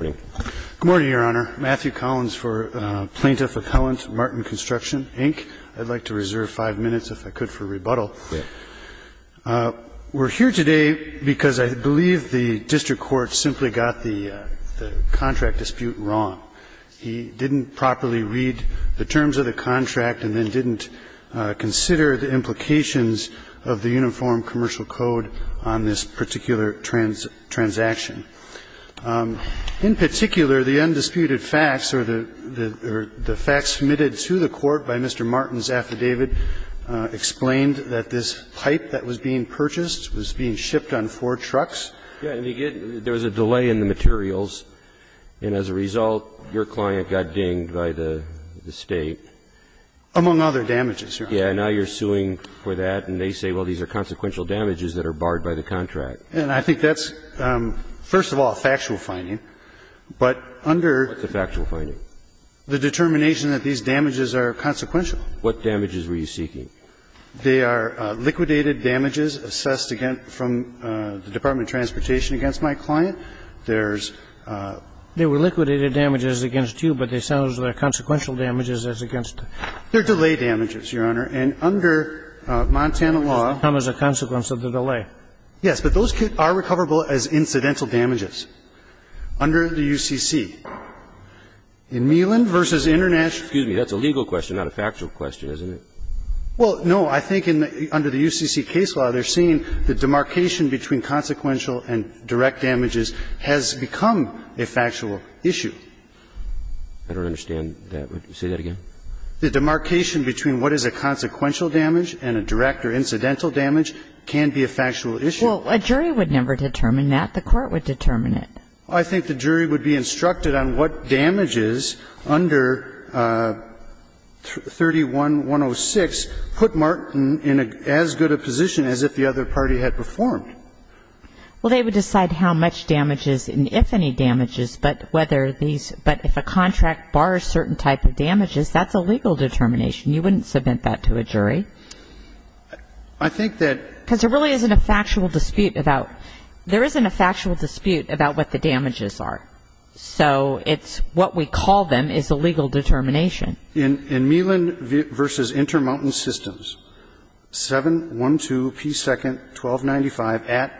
Good morning, Your Honor. Matthew Collins for Plaintiff Appellant, Martin Construction, Inc. I'd like to reserve five minutes, if I could, for rebuttal. We're here today because I believe the district court simply got the contract dispute wrong. He didn't properly read the terms of the contract and then didn't consider the implications of the uniform commercial code on this particular transaction. In particular, the undisputed facts or the facts submitted to the court by Mr. Martin's affidavit explained that this pipe that was being purchased was being shipped on four trucks. Yeah, and there was a delay in the materials, and as a result, your client got dinged by the State. Among other damages, Your Honor. Yeah, now you're suing for that, and they say, well, these are consequential damages that are barred by the contract. And I think that's, first of all, factual finding. But under the determination that these damages are consequential. What damages were you seeking? They are liquidated damages assessed from the Department of Transportation against my client. There's ---- They were liquidated damages against you, but they sound as though they're consequential damages as against the client. They're delay damages, Your Honor. And under Montana law ---- They come as a consequence of the delay. Yes, but those are recoverable as incidental damages under the UCC. In Meehlin v. International ---- Excuse me. That's a legal question, not a factual question, isn't it? Well, no. I think under the UCC case law, they're saying the demarcation between consequential and direct damages has become a factual issue. I don't understand that. Say that again. The demarcation between what is a consequential damage and a direct or incidental damage can be a factual issue. Well, a jury would never determine that. The court would determine it. I think the jury would be instructed on what damages under 31106 put Martin in as good a position as if the other party had performed. Well, they would decide how much damage is and if any damages, but whether these ---- but if a contract bars certain type of damages, that's a legal determination. You wouldn't submit that to a jury. I think that ---- Because there really isn't a factual dispute about ---- there isn't a factual dispute about what the damages are. So it's what we call them is a legal determination. In Meehlin v. Intermountain Systems, 712P21295 at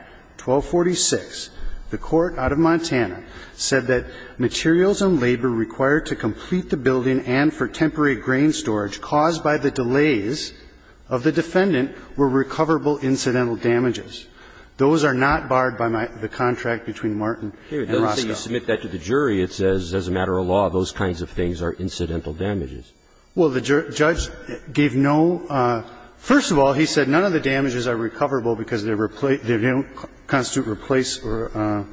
1246, the court out of Montana said that materials and labor required to complete the building and for temporary grain storage caused by the delays of the defendant were recoverable incidental damages. Those are not barred by the contract between Martin and Roscoe. It doesn't say you submit that to the jury. It says, as a matter of law, those kinds of things are incidental damages. Well, the judge gave no ---- first of all, he said none of the damages are recoverable because they don't constitute replace or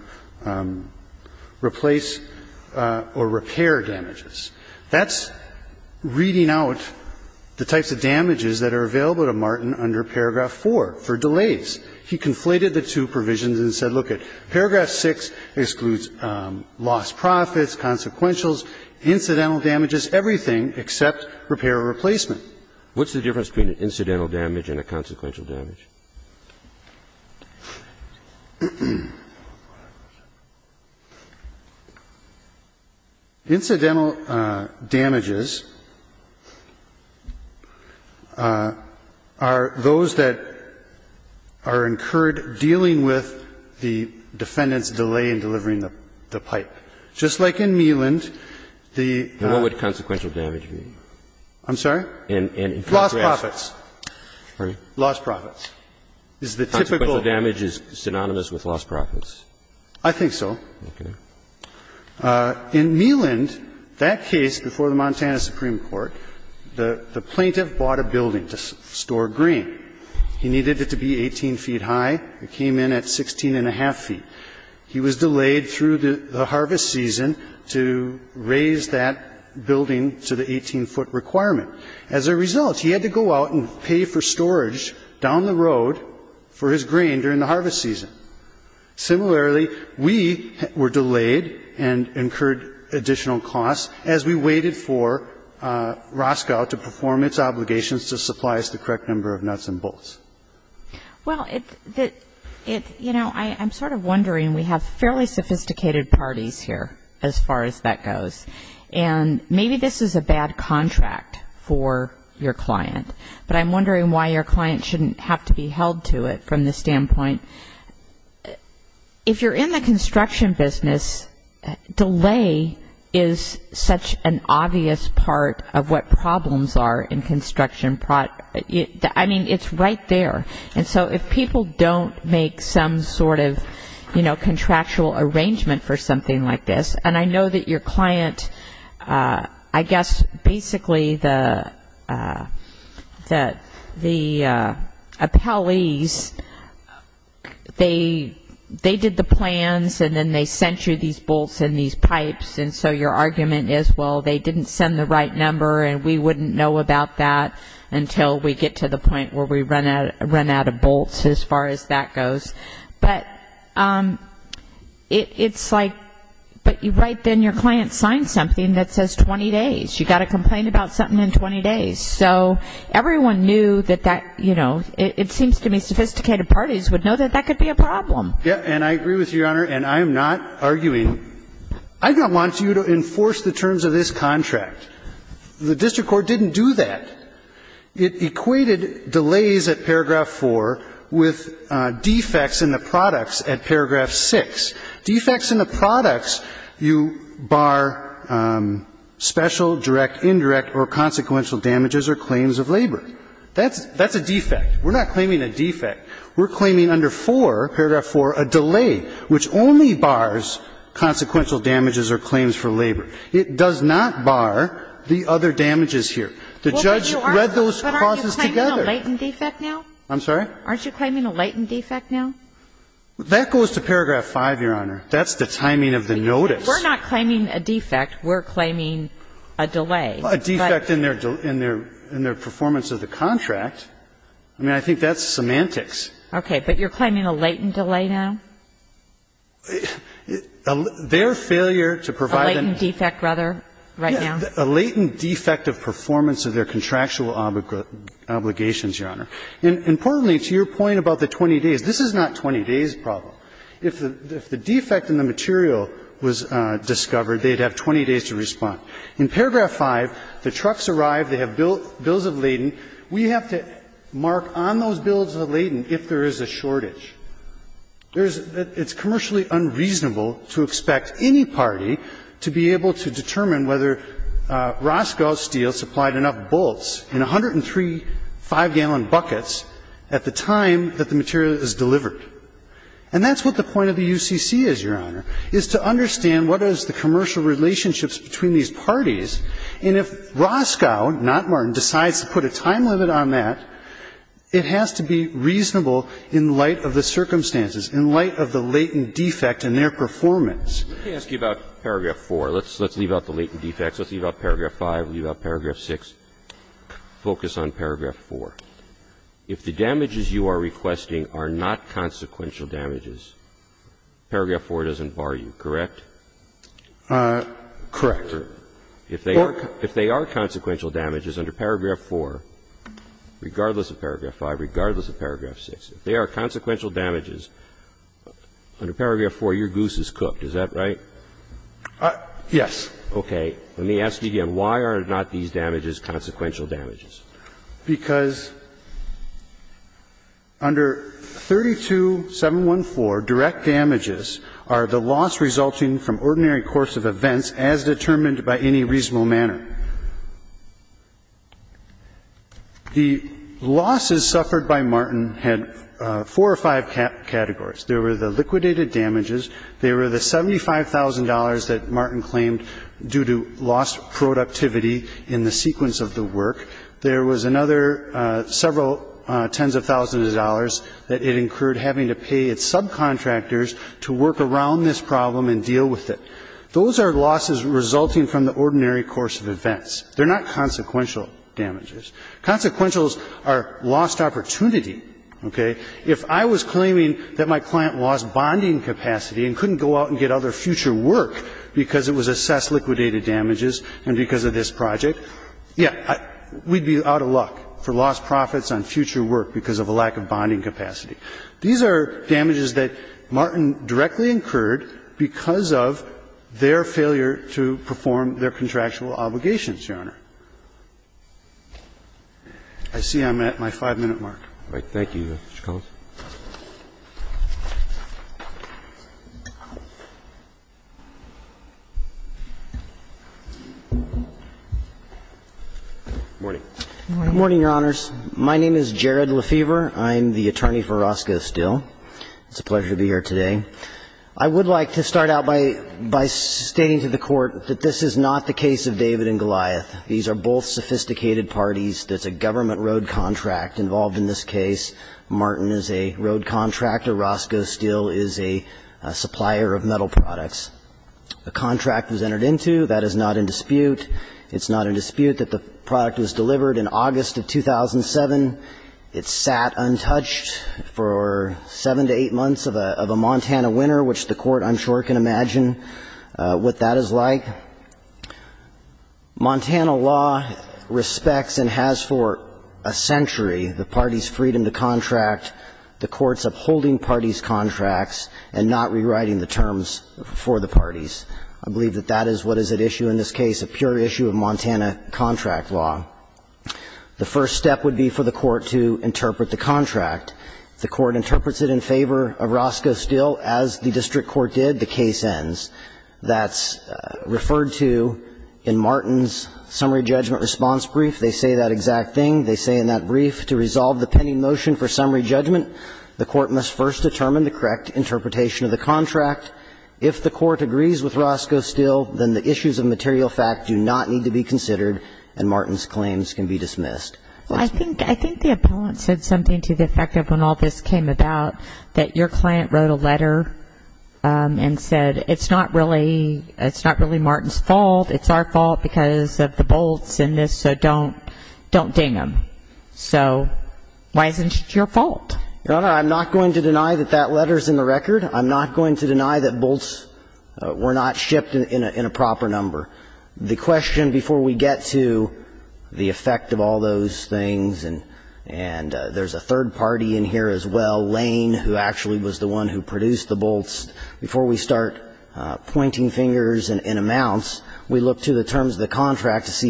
repair damages. That's reading out the types of damages that are available to Martin under paragraph 4 for delays. He conflated the two provisions and said, lookit, paragraph 6 excludes lost profits, consequentials, incidental damages, everything except repair or replacement. What's the difference between an incidental damage and a consequential damage? Incidental damages are those that are incurred dealing with the defendant's delay in delivering the pipe. Just like in Mieland, the ---- And what would consequential damage mean? I'm sorry? In contrast ---- And what would consequential damage be? I'm sorry? In contrast ---- Lost profits. Sorry? Lost profits. Okay. Is the typical ---- Consequential damage is synonymous with lost profits. I think so. Okay. In Mieland, that case before the Montana Supreme Court, the plaintiff bought a building to store grain. He needed it to be 18 feet high. It came in at 16-1⁄2 feet. He was delayed through the harvest season to raise that building to the 18-foot requirement. As a result, he had to go out and pay for storage down the road for his grain during the harvest season. Similarly, we were delayed and incurred additional costs as we waited for Roscoe to perform its obligations to supply us the correct number of nuts and bolts. Well, it's the ---- You know, I'm sort of wondering. We have fairly sophisticated parties here, as far as that goes. And maybe this is a bad contract for your client. But I'm wondering why your client shouldn't have to be held to it from this standpoint. If you're in the construction business, delay is such an obvious part of what problems are in construction. I mean, it's right there. And so if people don't make some sort of, you know, contractual arrangement for something like this, and I know that your client, I guess basically the appellees, they did the plans, and then they sent you these bolts and these pipes. And so your argument is, well, they didn't send the right number, and we wouldn't know about that until we get to the point where we run out of bolts, as far as that goes. But it's like, but right then your client signs something that says 20 days. You've got to complain about something in 20 days. So everyone knew that that, you know, it seems to me sophisticated parties would know that that could be a problem. Yeah. And I agree with you, Your Honor. And I'm not arguing. I don't want you to enforce the terms of this contract. The district court didn't do that. It equated delays at paragraph 4 with defects in the products at paragraph 6. Defects in the products, you bar special, direct, indirect, or consequential damages or claims of labor. That's a defect. We're not claiming a defect. We're claiming under 4, paragraph 4, a delay, which only bars consequential damages or claims for labor. It does not bar the other damages here. The judge read those clauses together. But aren't you claiming a latent defect now? I'm sorry? Aren't you claiming a latent defect now? That goes to paragraph 5, Your Honor. That's the timing of the notice. We're not claiming a defect. We're claiming a delay. A defect in their performance of the contract. I mean, I think that's semantics. Okay. But you're claiming a latent delay now? Their failure to provide them. A latent defect, rather, right now? A latent defect of performance of their contractual obligations, Your Honor. And importantly, to your point about the 20 days, this is not 20 days' problem. If the defect in the material was discovered, they'd have 20 days to respond. In paragraph 5, the trucks arrive. They have bills of latent. We have to mark on those bills of latent if there is a shortage. There's – it's commercially unreasonable to expect any party to be able to determine whether Roskow Steel supplied enough bolts in 103 5-gallon buckets at the time that the material is delivered. And that's what the point of the UCC is, Your Honor, is to understand what is the commercial relationships between these parties. And if Roskow, not Martin, decides to put a time limit on that, it has to be reasonable in light of the circumstances, in light of the latent defect in their performance. Let me ask you about paragraph 4. Let's leave out the latent defects. Let's leave out paragraph 5. Leave out paragraph 6. Focus on paragraph 4. If the damages you are requesting are not consequential damages, paragraph 4 doesn't bar you, correct? Correct. If they are consequential damages under paragraph 4, regardless of paragraph 5, regardless of paragraph 6, if they are consequential damages under paragraph 4, your goose is cooked. Is that right? Yes. Okay. Let me ask you again. Why are not these damages consequential damages? Because under 32-714, direct damages are the loss resulting from ordinary course of events as determined by any reasonable manner. The losses suffered by Martin had four or five categories. There were the liquidated damages. There were the $75,000 that Martin claimed due to lost productivity in the sequence of the work. There was another several tens of thousands of dollars that it incurred having to pay its subcontractors to work around this problem and deal with it. Those are losses resulting from the ordinary course of events. They're not consequential damages. Consequentials are lost opportunity, okay? If I was claiming that my client lost bonding capacity and couldn't go out and get other future work because it was assessed liquidated damages and because of this project, yes, we'd be out of luck for lost profits on future work because of a lack of bonding capacity. These are damages that Martin directly incurred because of their failure to perform their contractual obligations, Your Honor. I see I'm at my 5-minute mark. Thank you, Mr. Collins. Good morning. Good morning, Your Honors. My name is Jared Lefever. I'm the attorney for Roscoe Steele. It's a pleasure to be here today. I would like to start out by stating to the Court that this is not the case of David and Goliath. These are both sophisticated parties. There's a government road contract involved in this case. Martin is a road contractor. Roscoe Steele is a supplier of metal products. A contract was entered into. That is not in dispute. It's not in dispute that the product was delivered in August of 2007. It sat untouched for seven to eight months of a Montana winter, which the Court, I'm sure, can imagine what that is like. Montana law respects and has for a century the parties' freedom to contract, the courts upholding parties' contracts, and not rewriting the terms for the parties. I believe that that is what is at issue in this case, a pure issue of Montana contract law. The first step would be for the Court to interpret the contract. If the Court interprets it in favor of Roscoe Steele, as the district court did, the case ends. That's referred to in Martin's summary judgment response brief. They say that exact thing. They say in that brief, to resolve the pending motion for summary judgment, the Court must first determine the correct interpretation of the contract. If the Court agrees with Roscoe Steele, then the issues of material fact do not need to be considered, and Martin's claims can be dismissed. I think the appellant said something to the effect of when all this came about, that your client wrote a letter and said, it's not really Martin's fault. It's our fault because of the bolts in this, so don't ding him. So why isn't it your fault? Your Honor, I'm not going to deny that that letter is in the record. I'm not going to deny that bolts were not shipped in a proper number. The question before we get to the effect of all those things, and there's a third one, and that is,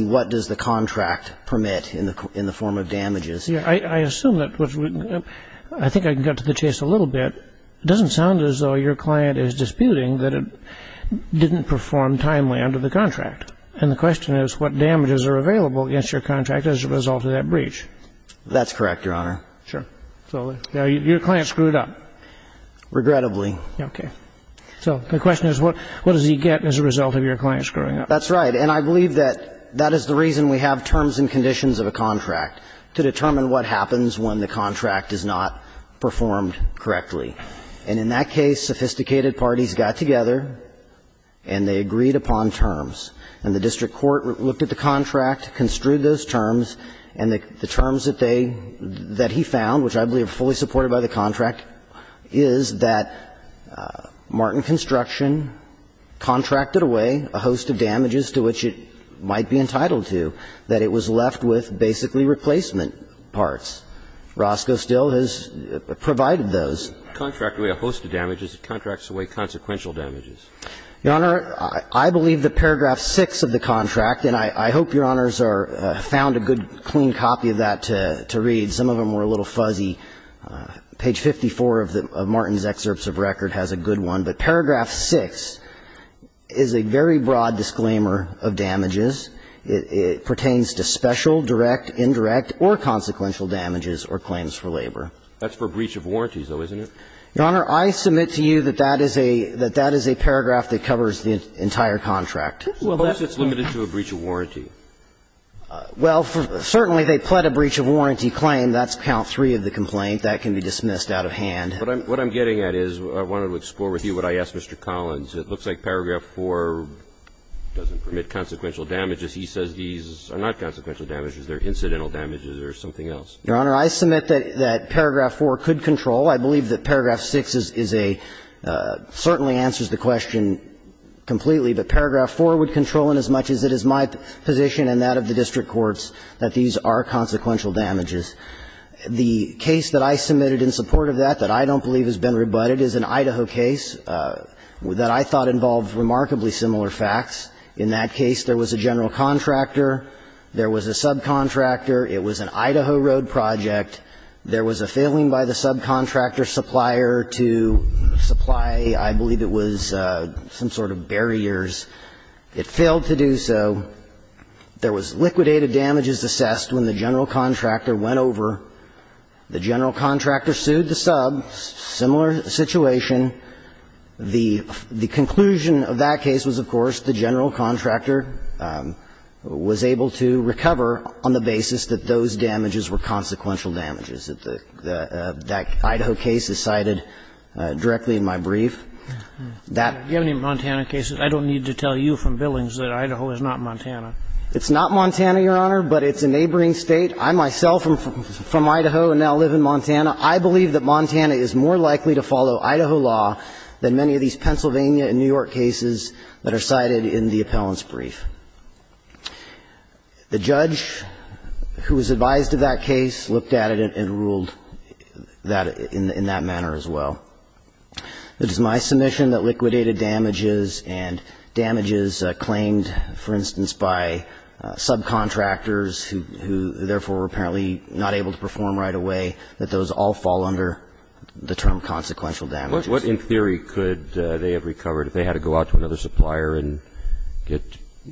what does the contract permit in the form of damages? I assume that, I think I can get to the chase a little bit. It doesn't sound as though your client is disputing that it didn't perform timely under the contract. And the question is, what damages are available against your contract as a result of that breach? That's correct, Your Honor. Sure. So your client screwed up. Regrettably. Okay. So the question is, what does he get as a result of your client screwing up? That's right. And I believe that that is the reason we have terms and conditions of a contract, to determine what happens when the contract is not performed correctly. And in that case, sophisticated parties got together, and they agreed upon terms. And the district court looked at the contract, construed those terms, and the terms that they, that he found, which I believe are fully supported by the contract, is that Martin Construction contracted away a host of damages to which it might be entitled to, that it was left with basically replacement parts. Roscoe still has provided those. Contracted away a host of damages. Contracts away consequential damages. Your Honor, I believe that paragraph 6 of the contract, and I hope Your Honors found a good clean copy of that to read. Some of them were a little fuzzy. Page 54 of Martin's excerpts of record has a good one. But paragraph 6 is a very broad disclaimer of damages. It pertains to special, direct, indirect, or consequential damages or claims for labor. That's for breach of warranties, though, isn't it? Your Honor, I submit to you that that is a paragraph that covers the entire contract. Roberts, it's limited to a breach of warranty. Well, certainly, they pled a breach of warranty claim. That's count 3 of the complaint. That can be dismissed out of hand. But what I'm getting at is, I wanted to explore with you what I asked Mr. Collins. It looks like paragraph 4 doesn't permit consequential damages. He says these are not consequential damages. They're incidental damages or something else. Your Honor, I submit that paragraph 4 could control. I believe that paragraph 6 is a, certainly answers the question completely. But paragraph 4 would control inasmuch as it is my position and that of the district courts that these are consequential damages. The case that I submitted in support of that that I don't believe has been rebutted is an Idaho case that I thought involved remarkably similar facts. In that case, there was a general contractor. There was a subcontractor. It was an Idaho road project. There was a failing by the subcontractor supplier to supply, I believe it was some sort of barriers. It failed to do so. There was liquidated damages assessed when the general contractor went over. The general contractor sued the sub. Similar situation. The conclusion of that case was, of course, the general contractor was able to recover on the basis that those damages were consequential damages. That Idaho case is cited directly in my brief. That ---- You have any Montana cases? I don't need to tell you from Billings that Idaho is not Montana. It's not Montana, Your Honor, but it's a neighboring State. I myself am from Idaho and now live in Montana. I believe that Montana is more likely to follow Idaho law than many of these Pennsylvania and New York cases that are cited in the appellant's brief. The judge who was advised of that case looked at it and ruled that in that manner as well. It is my submission that liquidated damages and damages claimed, for instance, by subcontractors who therefore were apparently not able to perform right away, that those all fall under the term consequential damages. What in theory could they have recovered if they had to go out to another supplier and get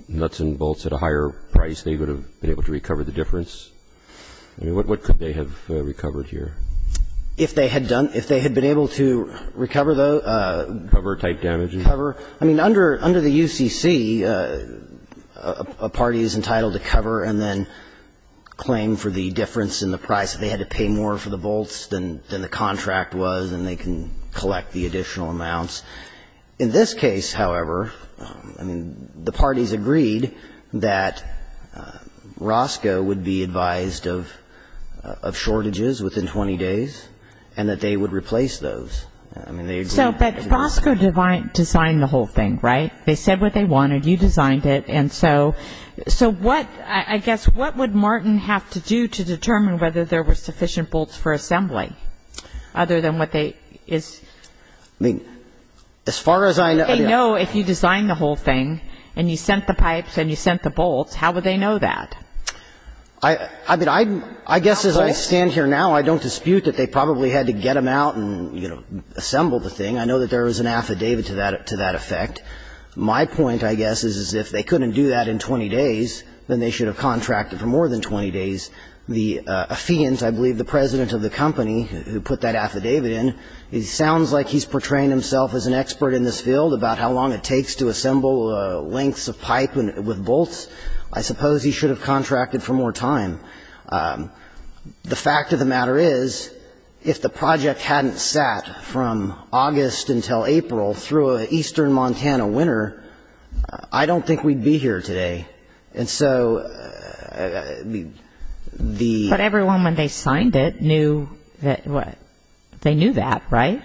nuts and bolts at a higher price? They would have been able to recover the difference. I mean, what could they have recovered here? If they had done ---- if they had been able to recover those ---- Recover type damages? Recover. I mean, under the UCC, a party is entitled to cover and then claim for the difference in the price if they had to pay more for the bolts than the contract was, and they can collect the additional amounts. In this case, however, I mean, the parties agreed that Roscoe would be advised of shortages within 20 days and that they would replace those. I mean, they agreed. So but Roscoe designed the whole thing, right? They said what they wanted. You designed it. And so what ---- I guess what would Martin have to do to determine whether there were sufficient bolts for assembly other than what they ---- I mean, as far as I know ---- They know if you designed the whole thing and you sent the pipes and you sent the bolts, how would they know that? I mean, I guess as I stand here now, I don't dispute that they probably had to get them out and, you know, assemble the thing. I know that there was an affidavit to that effect. My point, I guess, is if they couldn't do that in 20 days, then they should have contracted for more than 20 days. The affiant, I believe the president of the company, who put that affidavit in, it sounds like he's portraying himself as an expert in this field about how long it takes to assemble lengths of pipe with bolts. I suppose he should have contracted for more time. The fact of the matter is, if the project hadn't sat from August until April through an eastern Montana winter, I don't think we'd be here today. And so the ---- But everyone, when they signed it, knew that ---- they knew that, right?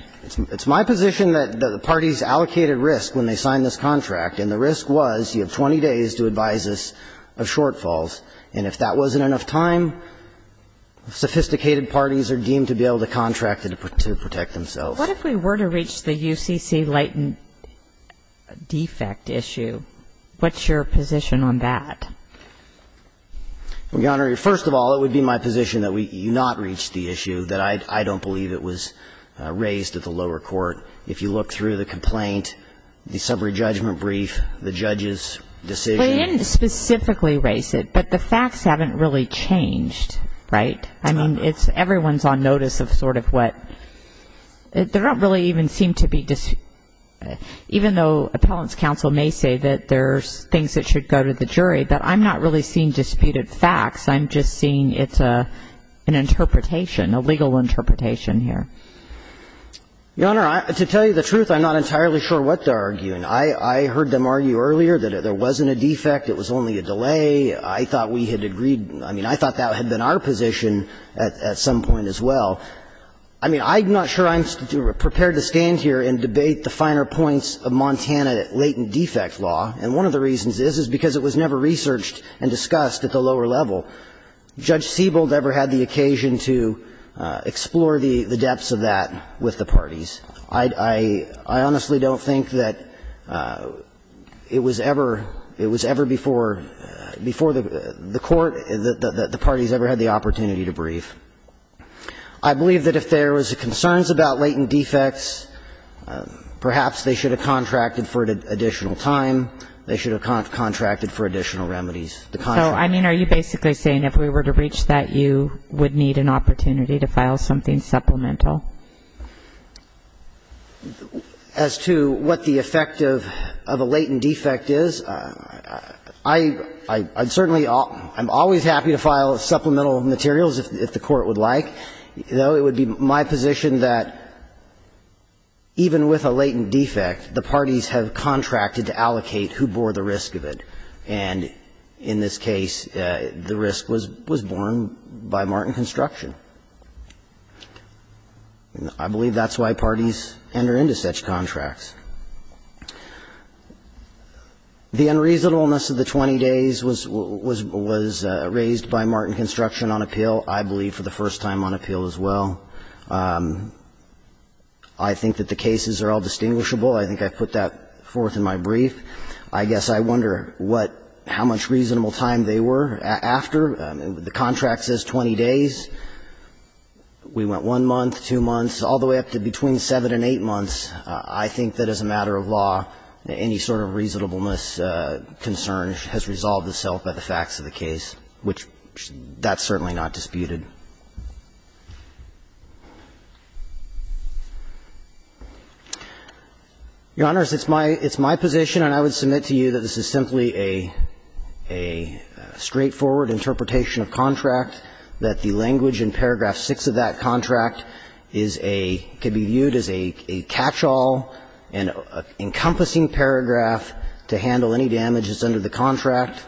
It's my position that the parties allocated risk when they signed this contract. And the risk was you have 20 days to advise us of shortfalls. And if that wasn't enough time, sophisticated parties are deemed to be able to contract it to protect themselves. What if we were to reach the UCC Leighton defect issue? What's your position on that? Your Honor, first of all, it would be my position that we not reach the issue, that I don't believe it was raised at the lower court. If you look through the complaint, the summary judgment brief, the judge's decision ---- They didn't specifically raise it. But the facts haven't really changed, right? I mean, it's ---- everyone's on notice of sort of what ---- there don't really even seem to be ---- even though appellant's counsel may say that there's things that should go to the jury, that I'm not really seeing disputed facts. I'm just seeing it's an interpretation, a legal interpretation here. Your Honor, to tell you the truth, I'm not entirely sure what they're arguing. I heard them argue earlier that there wasn't a defect, it was only a delay. I thought we had agreed ---- I mean, I thought that had been our position at some point as well. I mean, I'm not sure I'm prepared to stand here and debate the finer points of Montana Leighton defect law. And one of the reasons is, is because it was never researched and discussed at the lower level. So Judge Siebold never had the occasion to explore the depths of that with the parties. I honestly don't think that it was ever before the court that the parties ever had the opportunity to brief. I believe that if there was concerns about Leighton defects, perhaps they should have contracted for additional time, they should have contracted for additional remedies. So, I mean, are you basically saying if we were to reach that, you would need an opportunity to file something supplemental? As to what the effect of a Leighton defect is, I certainly ---- I'm always happy to file supplemental materials if the court would like, though it would be my position that even with a Leighton defect, the parties have contracted to allocate who bore the risk of it. And in this case, the risk was borne by Martin Construction. I believe that's why parties enter into such contracts. The unreasonableness of the 20 days was raised by Martin Construction on appeal, I believe, for the first time on appeal as well. I think that the cases are all distinguishable. I think I put that forth in my brief. I guess I wonder what ---- how much reasonable time they were after. The contract says 20 days. We went one month, two months, all the way up to between seven and eight months. I think that as a matter of law, any sort of reasonableness concern has resolved itself by the facts of the case, which that's certainly not disputed. Your Honor, it's my position, and I would submit to you that this is simply a straightforward interpretation of contract, that the language in paragraph 6 of that contract is a ---- could be viewed as a catch-all, an encompassing paragraph to handle any damage that's under the contract.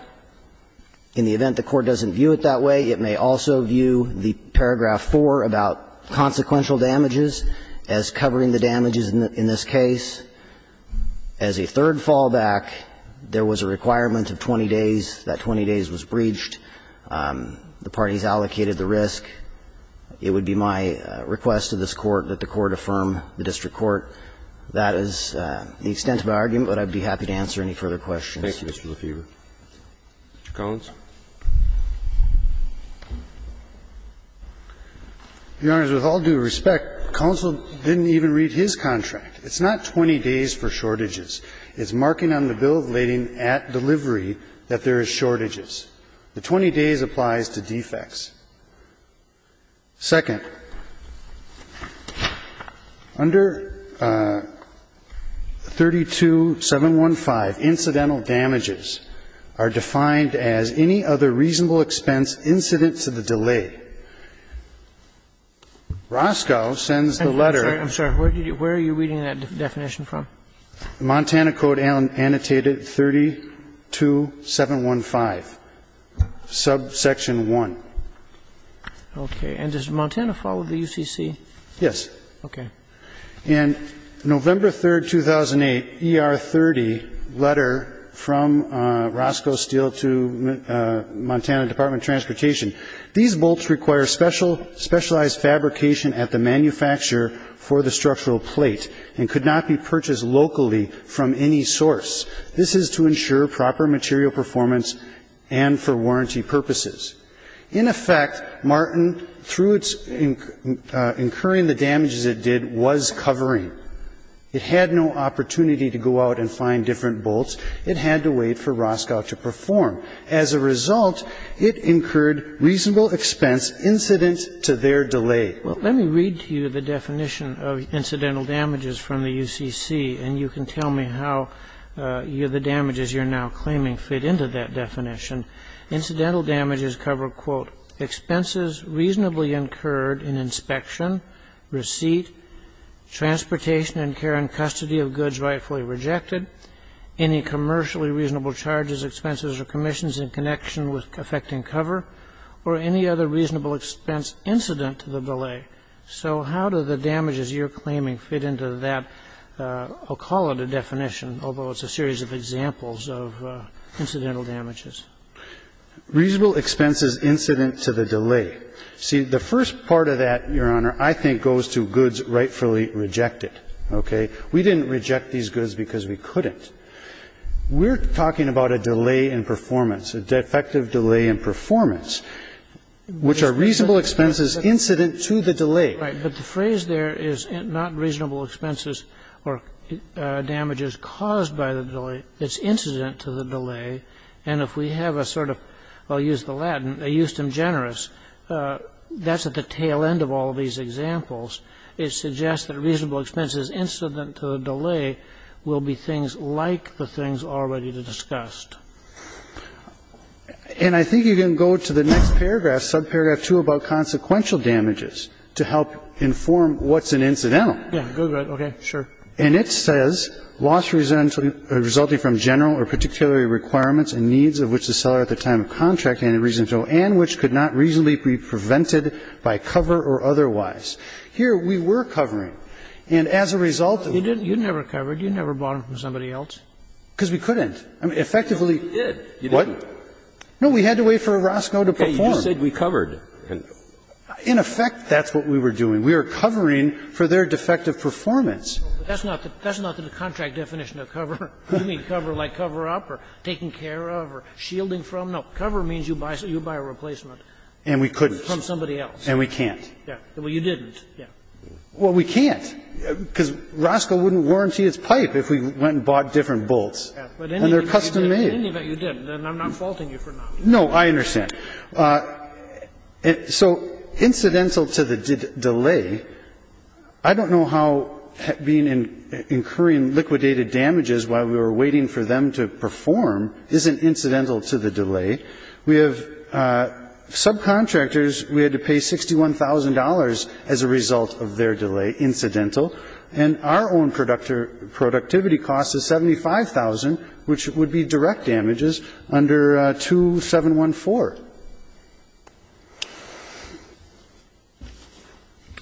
In the event the Court doesn't view it that way, it may also view the paragraph 4 about consequential damages as covering the damages in this case. As a third fallback, there was a requirement of 20 days. That 20 days was breached. The parties allocated the risk. It would be my request to this Court that the Court affirm the district court. That is the extent of my argument, but I'd be happy to answer any further questions. Thank you, Mr. Lefever. Mr. Collins. Your Honor, with all due respect, counsel didn't even read his contract. It's not 20 days for shortages. It's marking on the bill relating at delivery that there is shortages. The 20 days applies to defects. Second, under 32715, incidental damages are defined as any other reasonable expense incident to the delay. Roscoe sends the letter. I'm sorry. Where are you reading that definition from? Montana Code annotated 32715, subsection 1. Okay. And does Montana follow the UCC? Yes. Okay. In November 3, 2008, ER30 letter from Roscoe Steel to Montana Department of Transportation, these bolts require specialized fabrication at the manufacturer for the structural plate and could not be purchased locally from any source. This is to ensure proper material performance and for warranty purposes. In effect, Martin, through its incurring the damages it did, was covering. It had no opportunity to go out and find different bolts. It had to wait for Roscoe to perform. As a result, it incurred reasonable expense incident to their delay. Well, let me read to you the definition of incidental damages from the UCC, and you can tell me how the damages you're now claiming fit into that definition. Incidental damages cover, quote, expenses reasonably incurred in inspection, receipt, transportation, and care and custody of goods rightfully rejected, any commercially reasonable charges, expenses, or commissions in connection with effecting cover, or any other reasonable expense incident to the delay. So how do the damages you're claiming fit into that, I'll call it a definition, although it's a series of examples of incidental damages? Reasonable expenses incident to the delay. See, the first part of that, Your Honor, I think goes to goods rightfully rejected. Okay? We didn't reject these goods because we couldn't. We're talking about a delay in performance, a defective delay in performance, which are reasonable expenses incident to the delay. Right. But the phrase there is not reasonable expenses or damages caused by the delay. It's incident to the delay. And if we have a sort of, I'll use the Latin, a justem generis, that's at the tail end of all these examples. It suggests that reasonable expenses incident to the delay will be things like the things already discussed. And I think you can go to the next paragraph, subparagraph 2, about consequential damages to help inform what's an incidental. Yeah. Go to that. Okay. Sure. And it says, loss resulting from general or particular requirements and needs of which the seller at the time of contract had a reason to, and which could not reasonably be prevented by cover or otherwise. Here, we were covering. And as a result of it. You didn't. You never covered. You never bought them from somebody else. Because we couldn't. I mean, effectively. You did. What? No, we had to wait for Roscoe to perform. You said we covered. In effect, that's what we were doing. We were covering for their defective performance. That's not the contract definition of cover. You mean cover like cover up or taking care of or shielding from? No. Cover means you buy a replacement. And we couldn't. From somebody else. And we can't. Yeah. Well, you didn't. Yeah. Well, we can't. Because Roscoe wouldn't warranty its pipe if we went and bought different bolts. And they're custom made. In any event, you didn't. And I'm not faulting you for not. No, I understand. So incidental to the delay, I don't know how incurring liquidated damages while we were waiting for them to perform isn't incidental to the delay. We have subcontractors we had to pay $61,000 as a result of their delay, incidental. And our own productivity cost is $75,000, which would be direct damages under 2714.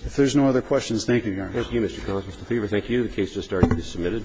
If there's no other questions, thank you, Your Honor. Thank you, Mr. Cohen. Mr. Fever, thank you. The case is submitted.